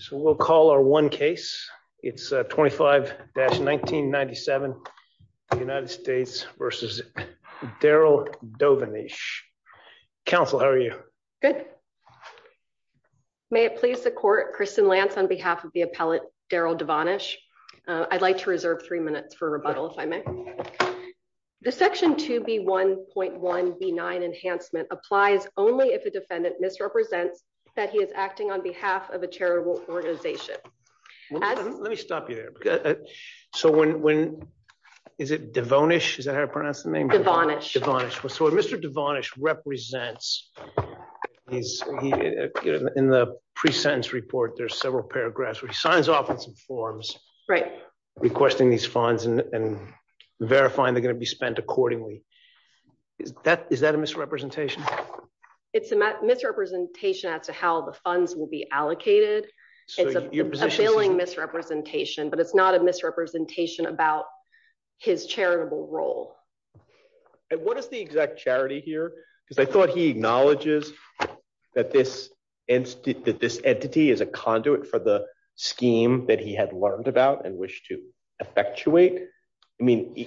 So we'll call our one case. It's 25-1997, United States v. Daryl Devonish. Counsel, how are you? Good. May it please the court, Kristen Lance on behalf of the appellate Daryl Devonish. I'd like to reserve three minutes for rebuttal, if I may. The section 2B1.1B9 enhancement applies only if a defendant misrepresents that he is acting on behalf of a charitable organization. Let me stop you there. So when, is it Devonish? Is that how to pronounce the name? Devonish. So if Mr. Devonish represents, in the pre-sentence report there's several paragraphs where he signs off on some forms. Right. Requesting these funds and verifying they're going to be spent accordingly. Is that a misrepresentation? It's a misrepresentation as to how the funds will be allocated. It's a failing misrepresentation, but it's not a misrepresentation about his charitable role. And what is the exact charity here? Because I thought he acknowledges that this entity is a conduit for the scheme that he had learned about and wished to effectuate. I mean,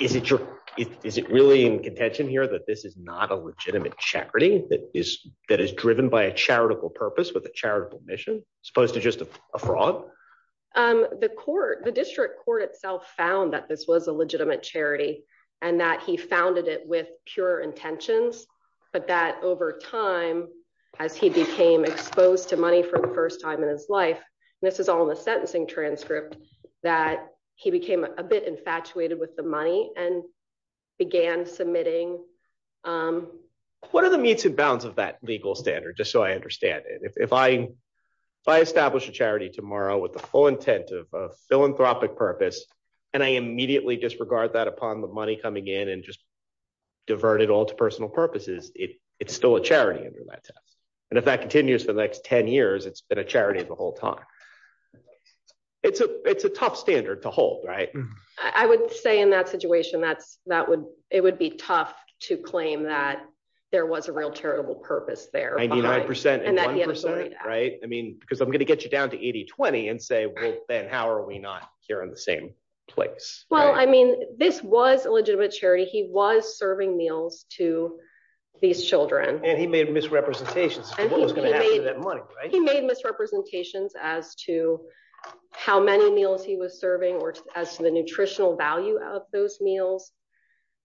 is it really in contention here that this is not a legitimate charity that is driven by a charitable purpose with a charitable mission, as opposed to just a fraud? The district court itself found that this was a legitimate charity and that he founded it with pure intentions, but that over time, as he became exposed to money for the first time in his life, this is all in the sentencing transcript, that he became a bit infatuated with the money and began submitting. What are the meets and bounds of that legal standard, just so I understand it? If I establish a charity tomorrow with the full intent of a philanthropic purpose, and I immediately disregard that upon the money coming in and just divert it all to personal purposes, it's still a charity under that test. And if that continues for the next 10 years, it's been a charity the whole time. It's a tough standard to hold, right? I would say in that situation, it would be tough to claim that there was a real charitable purpose there. Ninety-nine percent and one percent, right? I mean, because I'm going to get you down to 80-20 and say, well, then how are we not here in the same place? Well, I mean, this was a legitimate charity. He was serving meals to these children. And he made misrepresentations as to what was going to happen to that money, right? He made misrepresentations as to how many meals he was serving or as to the nutritional value of those meals.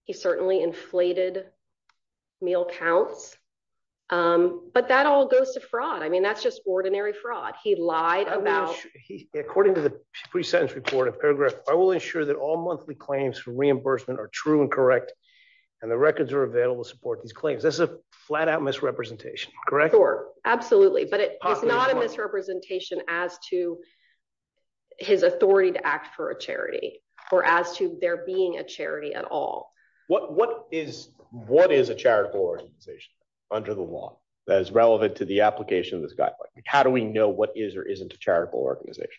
He certainly inflated meal counts. But that all goes to fraud. I mean, that's just ordinary fraud. He lied about... According to the pre-sentence report in paragraph, I will ensure that all monthly claims for reimbursement are true and correct, and the records are available to support these claims. This is a flat-out misrepresentation, correct? Sure, absolutely. But it's not a misrepresentation as to his authority to act for a charity or as to there being a charity at all. What is a charitable organization under the law that is relevant to the application of this guideline? How do we know what is or isn't a charitable organization?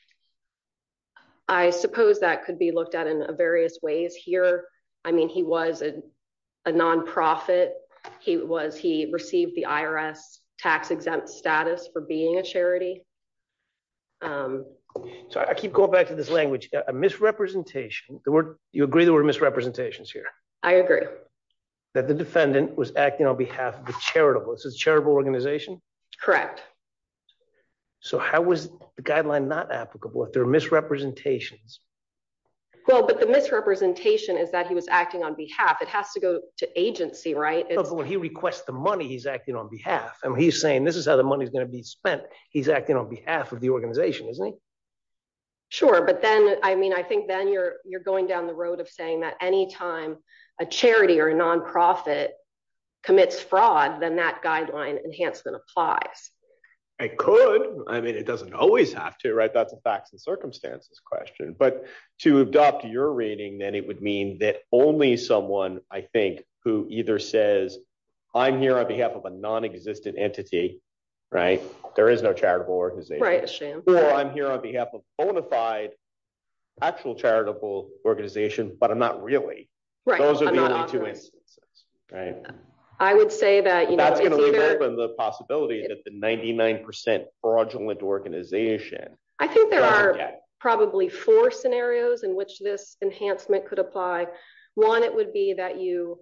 I suppose that could be looked at in various ways here. I mean, he was a non-profit. He received the IRS tax-exempt status for being a charity. So I keep going back to this language, a misrepresentation. You agree there were misrepresentations here? I agree. That the defendant was acting on behalf of the charitable. This is a charitable organization? Correct. So how was the guideline not applicable if there are misrepresentations? Well, but the misrepresentation is that he was acting on behalf. It has to go to agency, right? But when he requests the money, he's acting on behalf. I mean, he's saying this is how the money is going to be spent. He's acting on behalf of the organization, isn't he? Sure. But then, I mean, I think then you're going down the road of saying that any time a charity or a non-profit commits fraud, then that guideline enhancement applies. It could. I mean, it doesn't always have to, right? That's a facts and circumstances question. But to adopt your reading, then it would mean that only someone, I think, who either says, I'm here on behalf of a non-existent entity, right? There is no charitable organization. Right, a sham. Or I'm here on behalf of a bona fide actual charitable organization, but I'm not really. Right. Those are the only two instances, right? I would say that, you know. That's going to remove the possibility that the 99% fraudulent organization. I think there are probably four scenarios in which this enhancement could apply. One, it would be that you're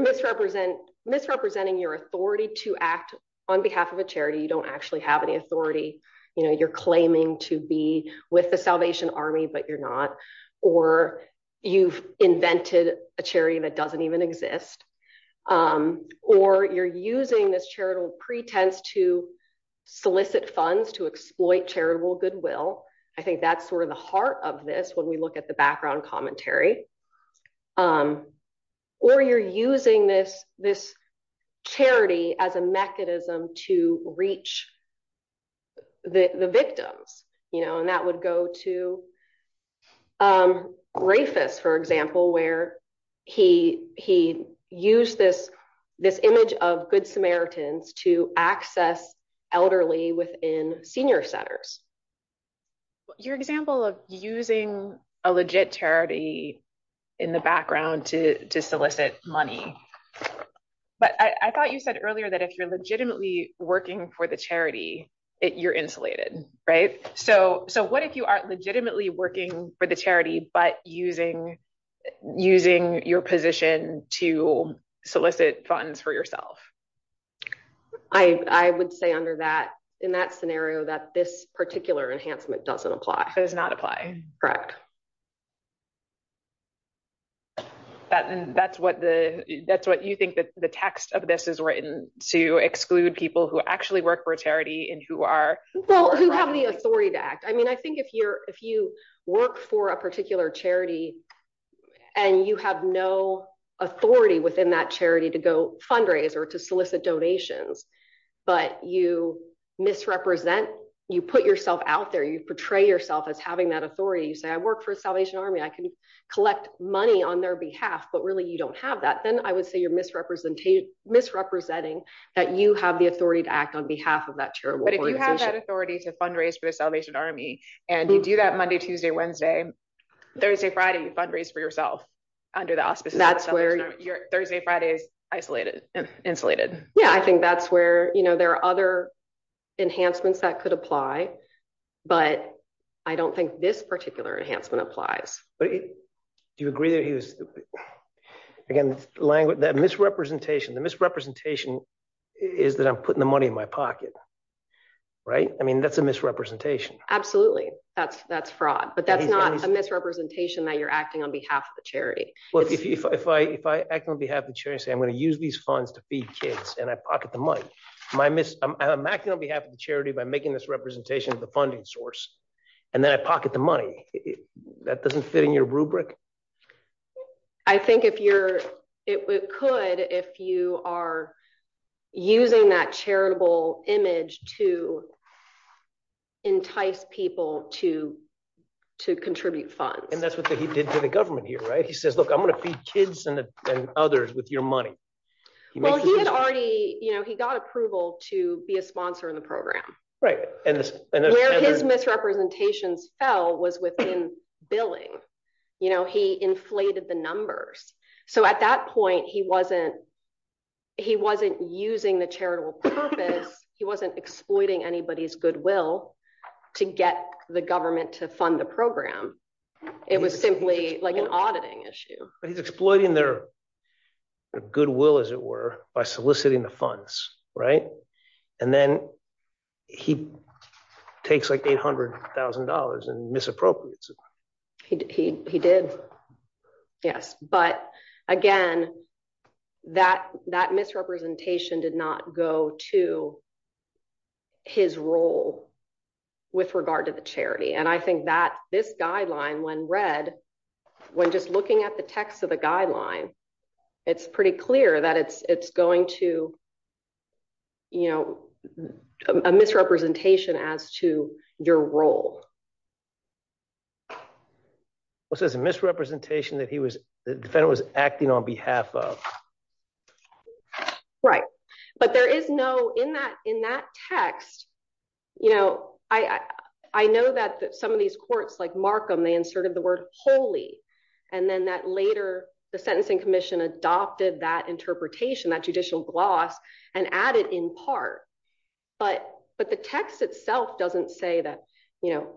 misrepresenting your authority to act on behalf of a charity. You don't actually have any authority. You know, you're claiming to be with the Salvation Army, but you're not. Or you've invented a charity that doesn't even exist. Or you're using this charitable pretense to solicit funds to exploit charitable goodwill. I think that's sort of the heart of this when we look at the background commentary. Or you're using this charity as a mechanism to reach the victims, you know. That would go to Rafus, for example, where he used this image of Good Samaritans to access elderly within senior centers. Your example of using a legit charity in the background to solicit money. But I thought you said earlier that if you're legitimately working for the charity, you're insulated, right? So what if you aren't legitimately working for the charity, but using your position to solicit funds for yourself? I would say under that, in that scenario, that this particular enhancement doesn't apply. It does not apply. And that's what you think the text of this is written, to exclude people who actually work for a charity and who are- Well, who have the authority to act. I mean, I think if you work for a particular charity and you have no authority within that charity to go fundraise or to solicit donations, but you misrepresent, you put yourself out there, you portray yourself as having that authority. You say, I work for Salvation Army. I can collect money on their behalf. But really, you don't have that. Then I would say you're misrepresenting that you have the authority to act on behalf of that charitable organization. But if you have that authority to fundraise for the Salvation Army, and you do that Monday, Tuesday, Wednesday, Thursday, Friday, you fundraise for yourself under the auspices of the Salvation Army. Thursday, Friday is insulated. Yeah, I think that's where there are other enhancements that could apply, but I don't think this particular enhancement applies. Do you agree that he was, again, that misrepresentation, the misrepresentation is that I'm putting the money in my pocket. Right. I mean, that's a misrepresentation. That's fraud, but that's not a misrepresentation that you're acting on behalf of the charity. Well, if I act on behalf of the charity, say I'm going to use these funds to feed kids and I pocket the money, I'm acting on behalf of the charity by making this representation of the funding source, and then I pocket the money, that doesn't fit in your rubric? I think it could if you are using that charitable image to entice people to contribute funds. And that's what he did to the government here, right? He says, look, I'm going to feed kids and others with your money. Well, he had already, you know, he got approval to be a sponsor in the program. Right. Where his misrepresentations fell was within billing. You know, he inflated the numbers. So at that point, he wasn't using the charitable purpose. He wasn't exploiting anybody's goodwill to get the government to fund the program. It was simply like an auditing issue. He's exploiting their goodwill, as it were, by soliciting the funds. Right. And then he takes like $800,000 in misappropriates. He did. Yes. But again, that misrepresentation did not go to his role with regard to the charity. And I think that this guideline, when read, when just looking at the text of the guideline, it's pretty clear that it's going to, you know, a misrepresentation as to your role. What's this misrepresentation that he was, the defendant was acting on behalf of? Right. But there is no, in that, in that text, you know, I know that some of these courts, like Markham, they inserted the word holy. And then that later, the Sentencing Commission adopted that interpretation, that judicial gloss, and added in part. But, but the text itself doesn't say that, you know,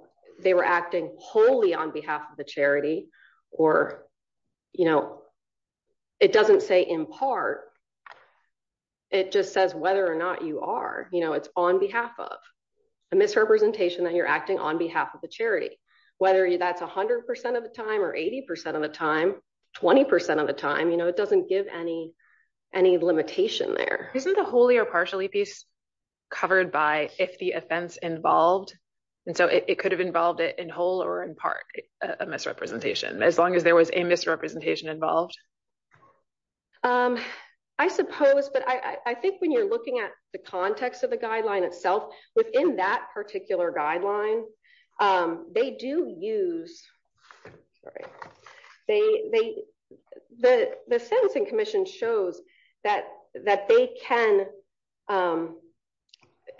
they were acting wholly on behalf of the charity, or, you know, it doesn't say in part, it just says whether or not you are, you know, it's on behalf of a misrepresentation that you're acting on behalf of the charity, whether that's 100% of the time, or 80% of the time, 20% of the time, you know, it doesn't give any, any limitation there. Isn't the wholly or partially piece covered by if the offense involved, and so it could have involved it in whole or in part, a misrepresentation, as long as there was a misrepresentation involved? I suppose, but I think when you're looking at the context of the guideline itself, within that particular guideline, they do use, sorry, they, they, the, the Sentencing Commission shows that, that they can,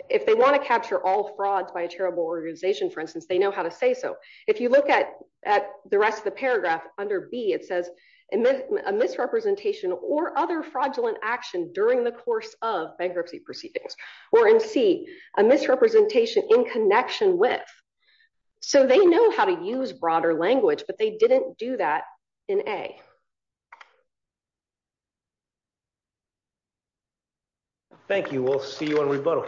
if they want to capture all frauds by a charitable organization, for instance, they know how to say so. If you look at, at the rest of the paragraph under B, it says a misrepresentation or other fraudulent action during the course of bankruptcy proceedings, or in C, a misrepresentation in connection with, so they know how to use broader language, but they didn't do that in A. Thank you. We'll see you on rebuttal.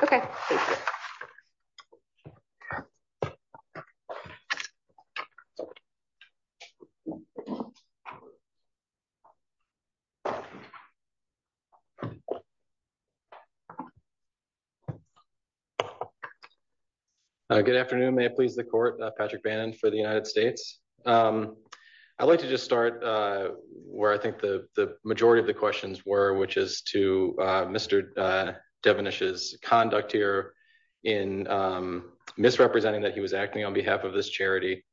Good afternoon. May it please the court, Patrick Bannon for the United States. Um, I'd like to just start, uh, where I think the, the majority of the questions were, which is to, uh, Mr. Devenish's conduct here in, um, misrepresenting that he was acting on behalf of this charity.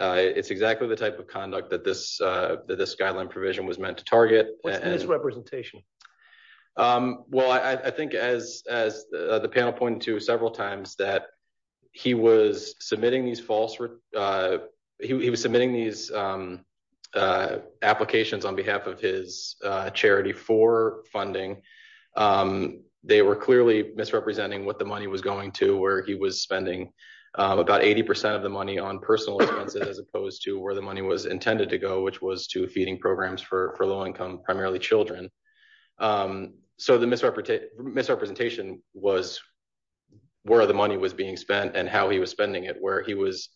Uh, it's exactly the type of conduct that this, uh, that this guideline provision was meant to target. What's the misrepresentation? Um, well, I, I think as, as, uh, the panel pointed to several times that he was submitting these false, uh, he was submitting these, um, uh, applications on behalf of his, uh, charity for funding. Um, they were clearly misrepresenting what the money was going to, where he was spending about 80% of the money on personal expenses, as opposed to where the money was intended to go, which was to feeding programs for low-income, primarily children. Um, so the misrepresentation was where the money was being spent and how he was spending it, where he was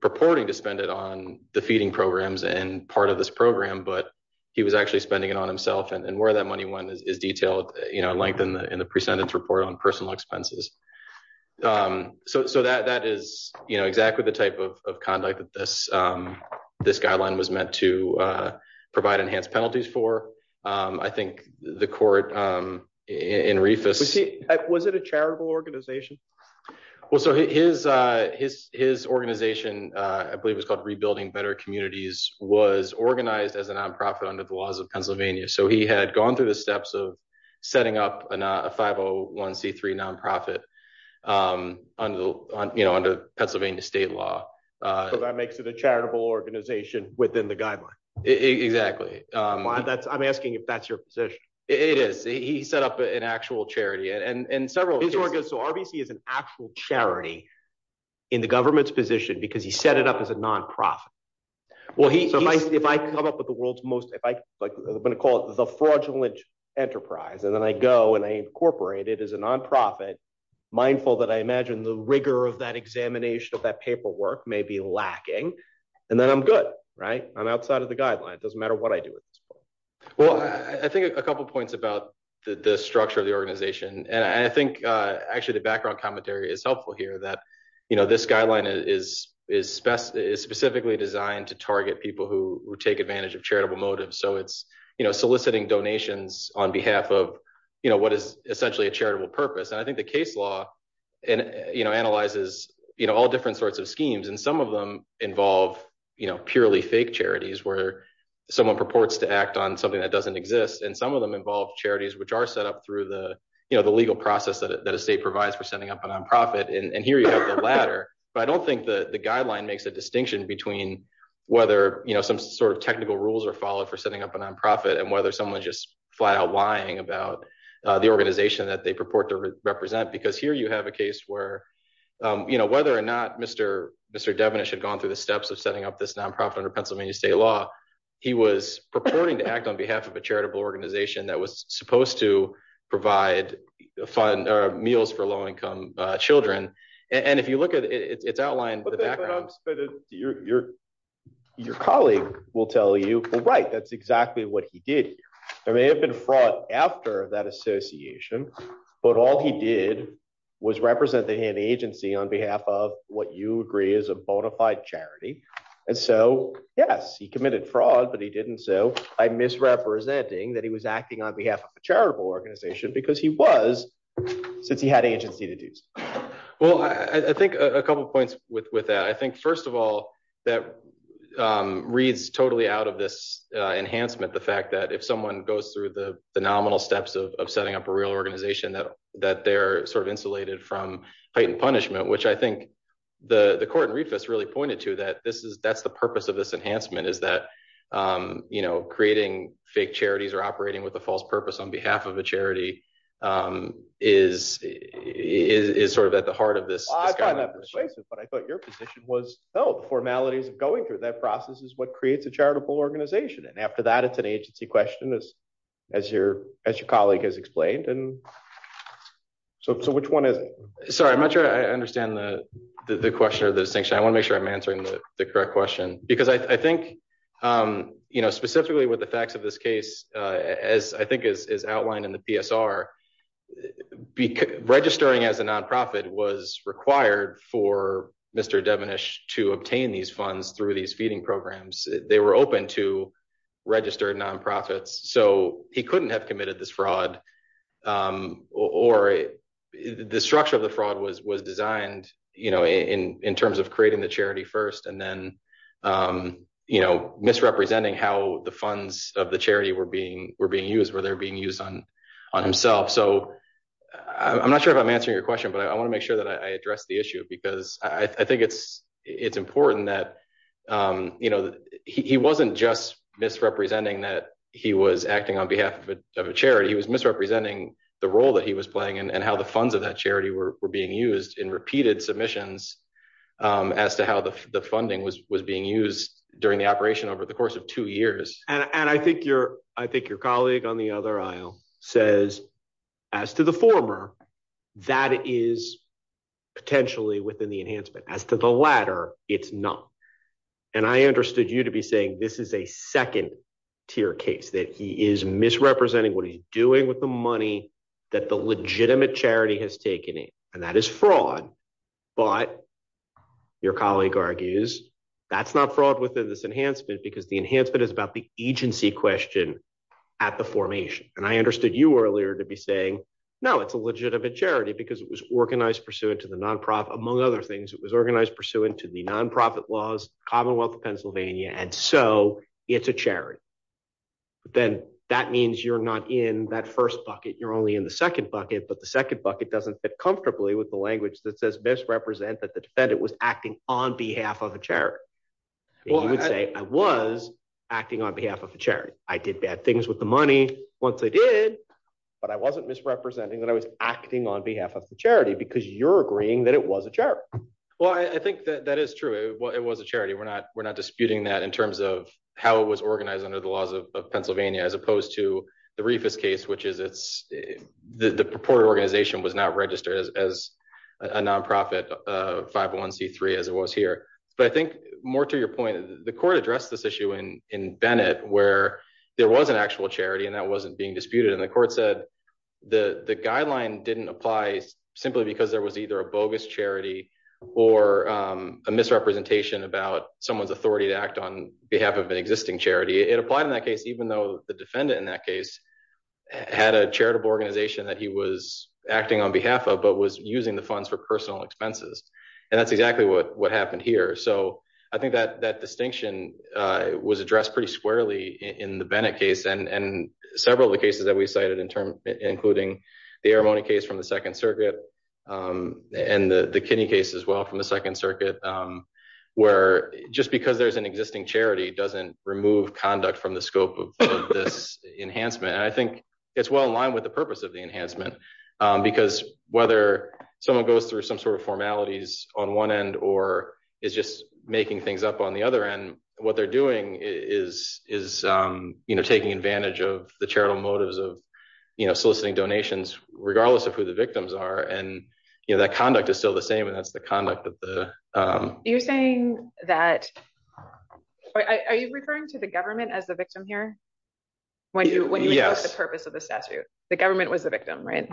purporting to spend it on the feeding programs and part of this program, but he was actually spending it on himself and, and where that money went is detailed, you know, length in the, in the presentence report on personal expenses. Um, so, so that, that is exactly the type of conduct that this, um, this guideline was meant to, uh, provide enhanced penalties for. Um, I think the court, um, in Reifus, was it a charitable organization? Well, so his, uh, his, his organization, uh, I believe it was called rebuilding better communities was organized as a non-profit under the laws of Pennsylvania. So he had gone through the steps of setting up a 501c3 non-profit, um, under the, you know, under Pennsylvania state law. Uh, that makes it a charitable organization within the guideline. Exactly. Um, that's, I'm asking if that's your position. It is, he set up an actual charity and, and several, so RBC is an actual charity in the government's position because he set it up as a non-profit. Well, he, if I come up with the world's most, if I like, I'm going to call it the fraudulent enterprise, and then I go and I incorporate it as a non-profit mindful that I imagine the rigor of that examination of that paperwork may be lacking. And then I'm good, right? I'm outside of the guideline. It doesn't matter what I do. Well, I think a couple of points about the structure of the organization. And I think, uh, actually the background commentary is helpful here that, you know, this guideline is, is specifically designed to target people who take advantage of charitable motives. So it's, you know, soliciting donations on behalf of, you know, what is essentially a charitable purpose. And I think the case law and, you know, analyzes, you know, all different sorts of schemes. And some of them involve, you know, purely fake charities where someone purports to act on something that doesn't exist. And some of them involve charities, which are set up through the, you know, the legal process that a state provides for setting up a non-profit. And here you have the latter, but I don't think the guideline makes a distinction between whether, you know, some sort of technical rules are followed for setting up a non-profit and whether someone's just flat out lying about the organization that they purport to represent. Because here you have a case where, you know, whether or not Mr. Devenish had gone through the steps of setting up this non-profit under Pennsylvania state law, he was purporting to act on behalf of a charitable organization that was supposed to provide meals for low-income children. And if you look at it, it's outlined. Your colleague will tell you, well, right, that's exactly what he did. There may have been fraud after that association, but all he did was represent the agency on behalf of what you agree is a bona fide charity. And so yes, he committed fraud, but he didn't. So I'm misrepresenting that he was acting on behalf of a charitable organization because he was, since he had agency to do so. Well, I think a couple of points with that. I think first of all, that reads totally out of this enhancement, the fact that if someone goes through the nominal steps of setting up a real organization, that they're sort of insulated from patent punishment, which I think the court in Reefus really pointed to that this is, that's the purpose of this enhancement is that, you know, creating fake charities or operating with a false purpose on behalf of a charity is sort of at the heart of this. I find that persuasive, but I thought your position was, oh, the formalities of going through that process is what creates a charitable organization. And after that, it's an agency question as your colleague has explained. And so which one is it? Sorry, I'm not sure I understand the question or the distinction. I want to make sure I'm answering the correct question because I think, you know, specifically with the facts of this case, as I think is outlined in the programs, they were open to registered nonprofits. So he couldn't have committed this fraud or the structure of the fraud was designed, you know, in terms of creating the charity first, and then, you know, misrepresenting how the funds of the charity were being used, where they're being used on himself. So I'm not sure if I'm answering your question, but I want it's important that, you know, he wasn't just misrepresenting that he was acting on behalf of a charity, he was misrepresenting the role that he was playing and how the funds of that charity were being used in repeated submissions as to how the funding was being used during the operation over the course of two years. And I think your colleague on the other aisle says, as to the former, that is potentially within the enhancement as to the latter, it's not. And I understood you to be saying this is a second tier case that he is misrepresenting what he's doing with the money that the legitimate charity has taken in, and that is fraud. But your colleague argues, that's not fraud within this enhancement, because the enhancement is about the agency question at the formation. And I understood you earlier to be saying, no, it's a legitimate charity, because it was organized pursuant to the nonprofit, among other things, it was organized pursuant to the nonprofit laws, Commonwealth of Pennsylvania, and so it's a charity. But then that means you're not in that first bucket, you're only in the second bucket, but the second bucket doesn't fit comfortably with the language that says misrepresent that the defendant was acting on behalf of a charity. Well, I would say I was acting on behalf of a charity, I did bad things with the money once I did. But I wasn't misrepresenting that I was acting on behalf of the charity, because you're agreeing that it was a charity. Well, I think that that is true. Well, it was a charity. We're not we're not disputing that in terms of how it was organized under the laws of Pennsylvania, as opposed to the reefers case, which is it's the purported was not registered as a nonprofit 501 c three, as it was here. But I think more to your point, the court addressed this issue in in Bennett, where there was an actual charity, and that wasn't being disputed. And the court said, the guideline didn't apply, simply because there was either a bogus charity, or a misrepresentation about someone's authority to act on behalf of an existing charity. It applied in that case, even though the defendant in that case, had a charitable organization that he was acting on behalf of, but was using the funds for personal expenses. And that's exactly what what happened here. So I think that that distinction was addressed pretty squarely in the Bennett case, and several of the cases that we cited in term, including the air money case from the Second Circuit, and the kidney case as well from the Second Circuit, where just because there's an existing charity doesn't remove conduct from scope of this enhancement. And I think it's well in line with the purpose of the enhancement. Because whether someone goes through some sort of formalities on one end, or is just making things up on the other end, what they're doing is, is, you know, taking advantage of the charitable motives of, you know, soliciting donations, regardless of who the victims are. And, you know, that conduct is still the same. And that's the conduct that the you're saying that I referring to the government as the victim here? When you when you use the purpose of the statute, the government was the victim, right?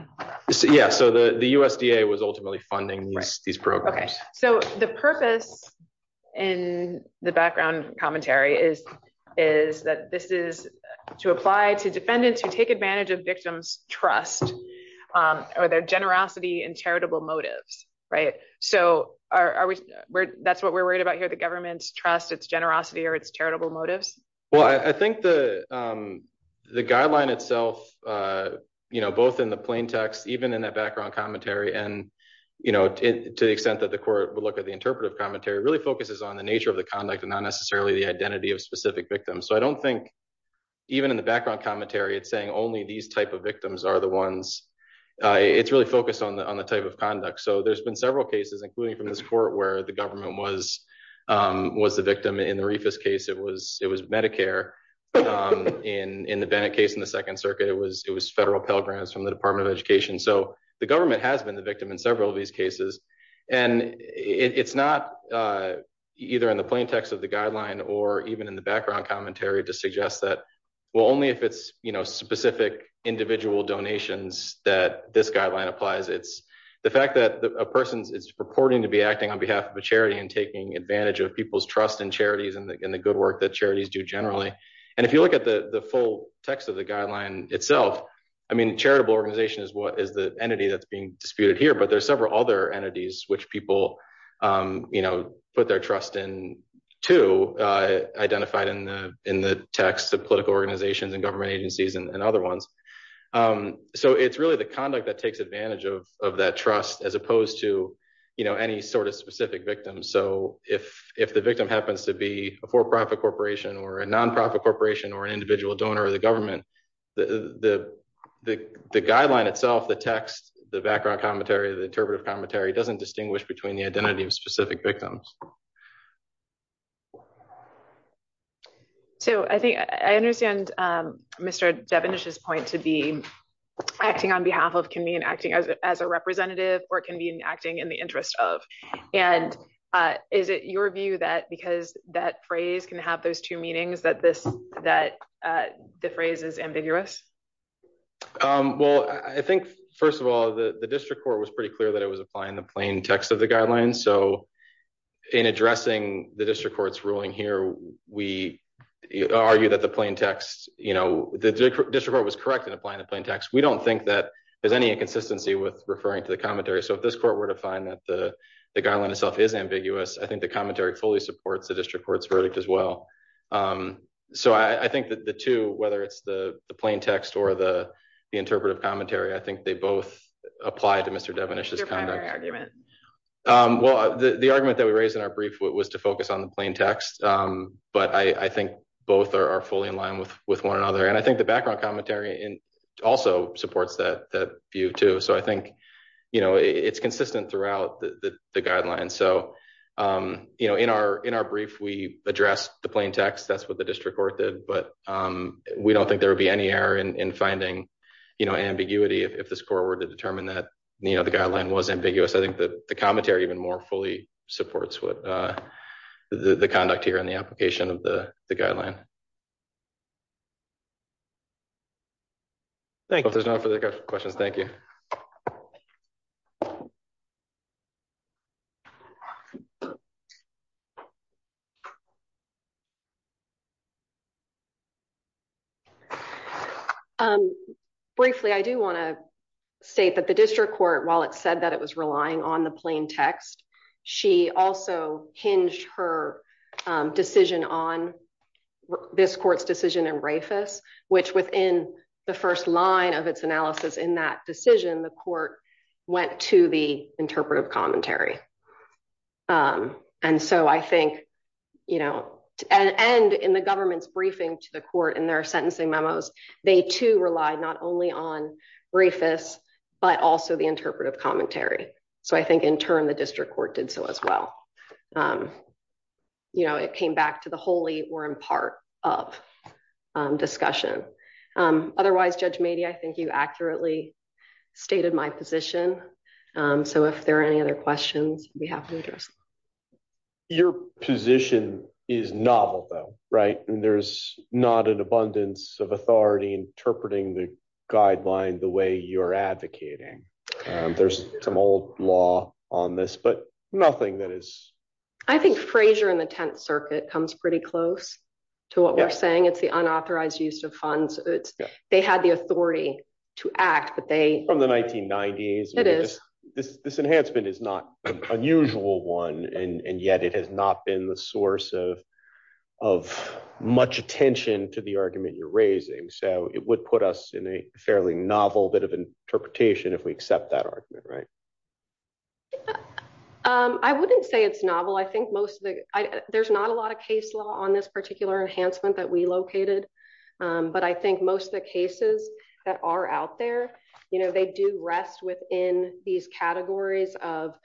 Yeah, so the the USDA was ultimately funding these programs. So the purpose in the background commentary is, is that this is to apply to defendants who take advantage of victims trust, or their generosity and charitable motives, right? So are we? That's what we're worried about here, the government's trust, its generosity or its charitable motives? Well, I think the the guideline itself, you know, both in the plain text, even in that background commentary, and, you know, to the extent that the court would look at the interpretive commentary really focuses on the nature of the conduct and not necessarily the identity of specific victims. So I don't think even in the background commentary, it's saying only these type of victims are the ones it's really focused on the on the type of conduct. So there's been several cases, including from this court where the government was, was the victim in the refus case, it was it was Medicare. In the Bennett case in the Second Circuit, it was it was federal Pell Grants from the Department of Education. So the government has been the victim in several of these cases. And it's not either in the plain text of the guideline, or even in the background commentary to suggest that, well, only if it's, you know, specific individual donations that this guideline applies, it's the fact that a person's is purporting to be acting on behalf of a charity and taking advantage of people's trust in charities and the good work that charities do generally. And if you look at the the full text of the guideline itself, I mean, charitable organization is what is the entity that's being disputed here. But there's several other entities which people, you know, put their trust in to identified in the in the text of political organizations and agencies and other ones. So it's really the conduct that takes advantage of that trust, as opposed to, you know, any sort of specific victims. So if if the victim happens to be a for profit corporation, or a nonprofit corporation, or an individual donor of the government, the the guideline itself, the text, the background commentary, the interpretive commentary doesn't distinguish between the identity of specific victims. So I think I understand, Mr. Devon is his point to be acting on behalf of can be an acting as a representative or can be an acting in the interest of. And is it your view that because that phrase can have those two meanings that this that the phrase is ambiguous? Well, I think, first of all, the district court was pretty clear that it was applying the plain text of the guidelines. So in addressing the district court's ruling here, we argue that the plain text, you know, the district court was correct in applying the plain text, we don't think that there's any inconsistency with referring to the commentary. So if this court were to find that the guideline itself is ambiguous, I think the commentary fully supports the district court's verdict as well. So I think that the two whether it's the plain text or the interpretive commentary, I think they both apply to Mr. Devon is just kind of argument. Well, the argument that we raised in our brief was to focus on the plain text. But I think both are fully in line with with one another. And I think the background commentary in also supports that view, too. So I think, you know, it's consistent throughout the guidelines. So, you know, in our in our brief, we address the plain text, that's what the district court did. We don't think there would be any error in finding, you know, ambiguity, if this court were to determine that, you know, the guideline was ambiguous. I think that the commentary even more fully supports what the conduct here on the application of the guideline. Thank you. There's no further questions. Thank you. Um, briefly, I do want to state that the district court, while it said that it was relying on the plain text, she also hinged her decision on this court's decision and Rafa, which within the first line of its analysis in that decision, the court went to the interpretive commentary. And so I think, you know, and in the government's briefing to the court and their sentencing memos, they to rely not only on briefness, but also the interpretive commentary. So I think in turn, the district court did so as well. You know, it came back to the holy were in part of discussion. Otherwise, Judge Mady, I think you accurately stated my position. So if there are any other questions we have to address, your position is novel though, right? And there's not an abundance of authority interpreting the guideline the way you're advocating. There's some old law on this, but nothing that is, I think Frazier in the 10th circuit comes pretty close to what we're saying. It's the unauthorized use of funds. They had the authority to act, but they from the 1990s, this enhancement is not unusual one. And yet it has not been the source of much attention to the argument you're raising. So it would put us in a fairly novel bit of interpretation if we accept that argument, right? I wouldn't say it's novel. I think most of the, there's not a lot of case law on this particular enhancement that we located. But I think most of the cases that are out there, they do rest within these categories of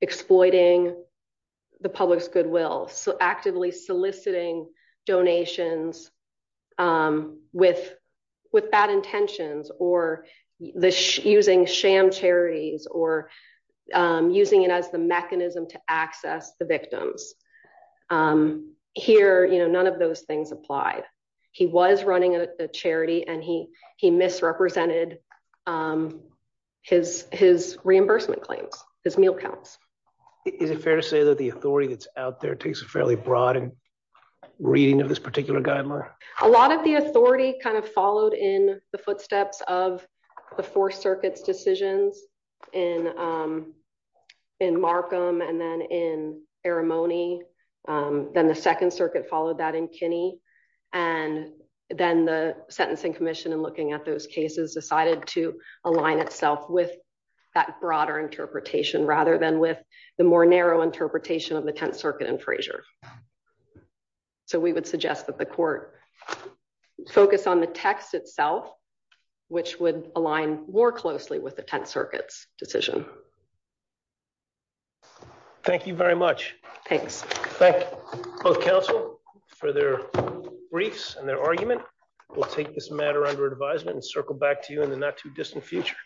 exploiting the public's goodwill. So actively soliciting donations with bad intentions or using sham charities or using it as the mechanism to access the victims. Here, none of those things applied. He was running a charity and he misrepresented his reimbursement claims, his meal counts. Is it fair to say that the authority that's out there takes a fairly broad reading of this particular guideline? A lot of the authority kind of followed in the footsteps of the four circuits decisions in Markham and then in Arimony. Then the second circuit followed that in Kinney and then the sentencing commission and those cases decided to align itself with that broader interpretation rather than with the more narrow interpretation of the 10th circuit and Frazier. So we would suggest that the court focus on the text itself, which would align more closely with the 10th circuit's decision. Thank you very much. Thanks. Thank you both counsel for their briefs and their argument. We'll take this matter under advisement and circle back to you in the not too distant future.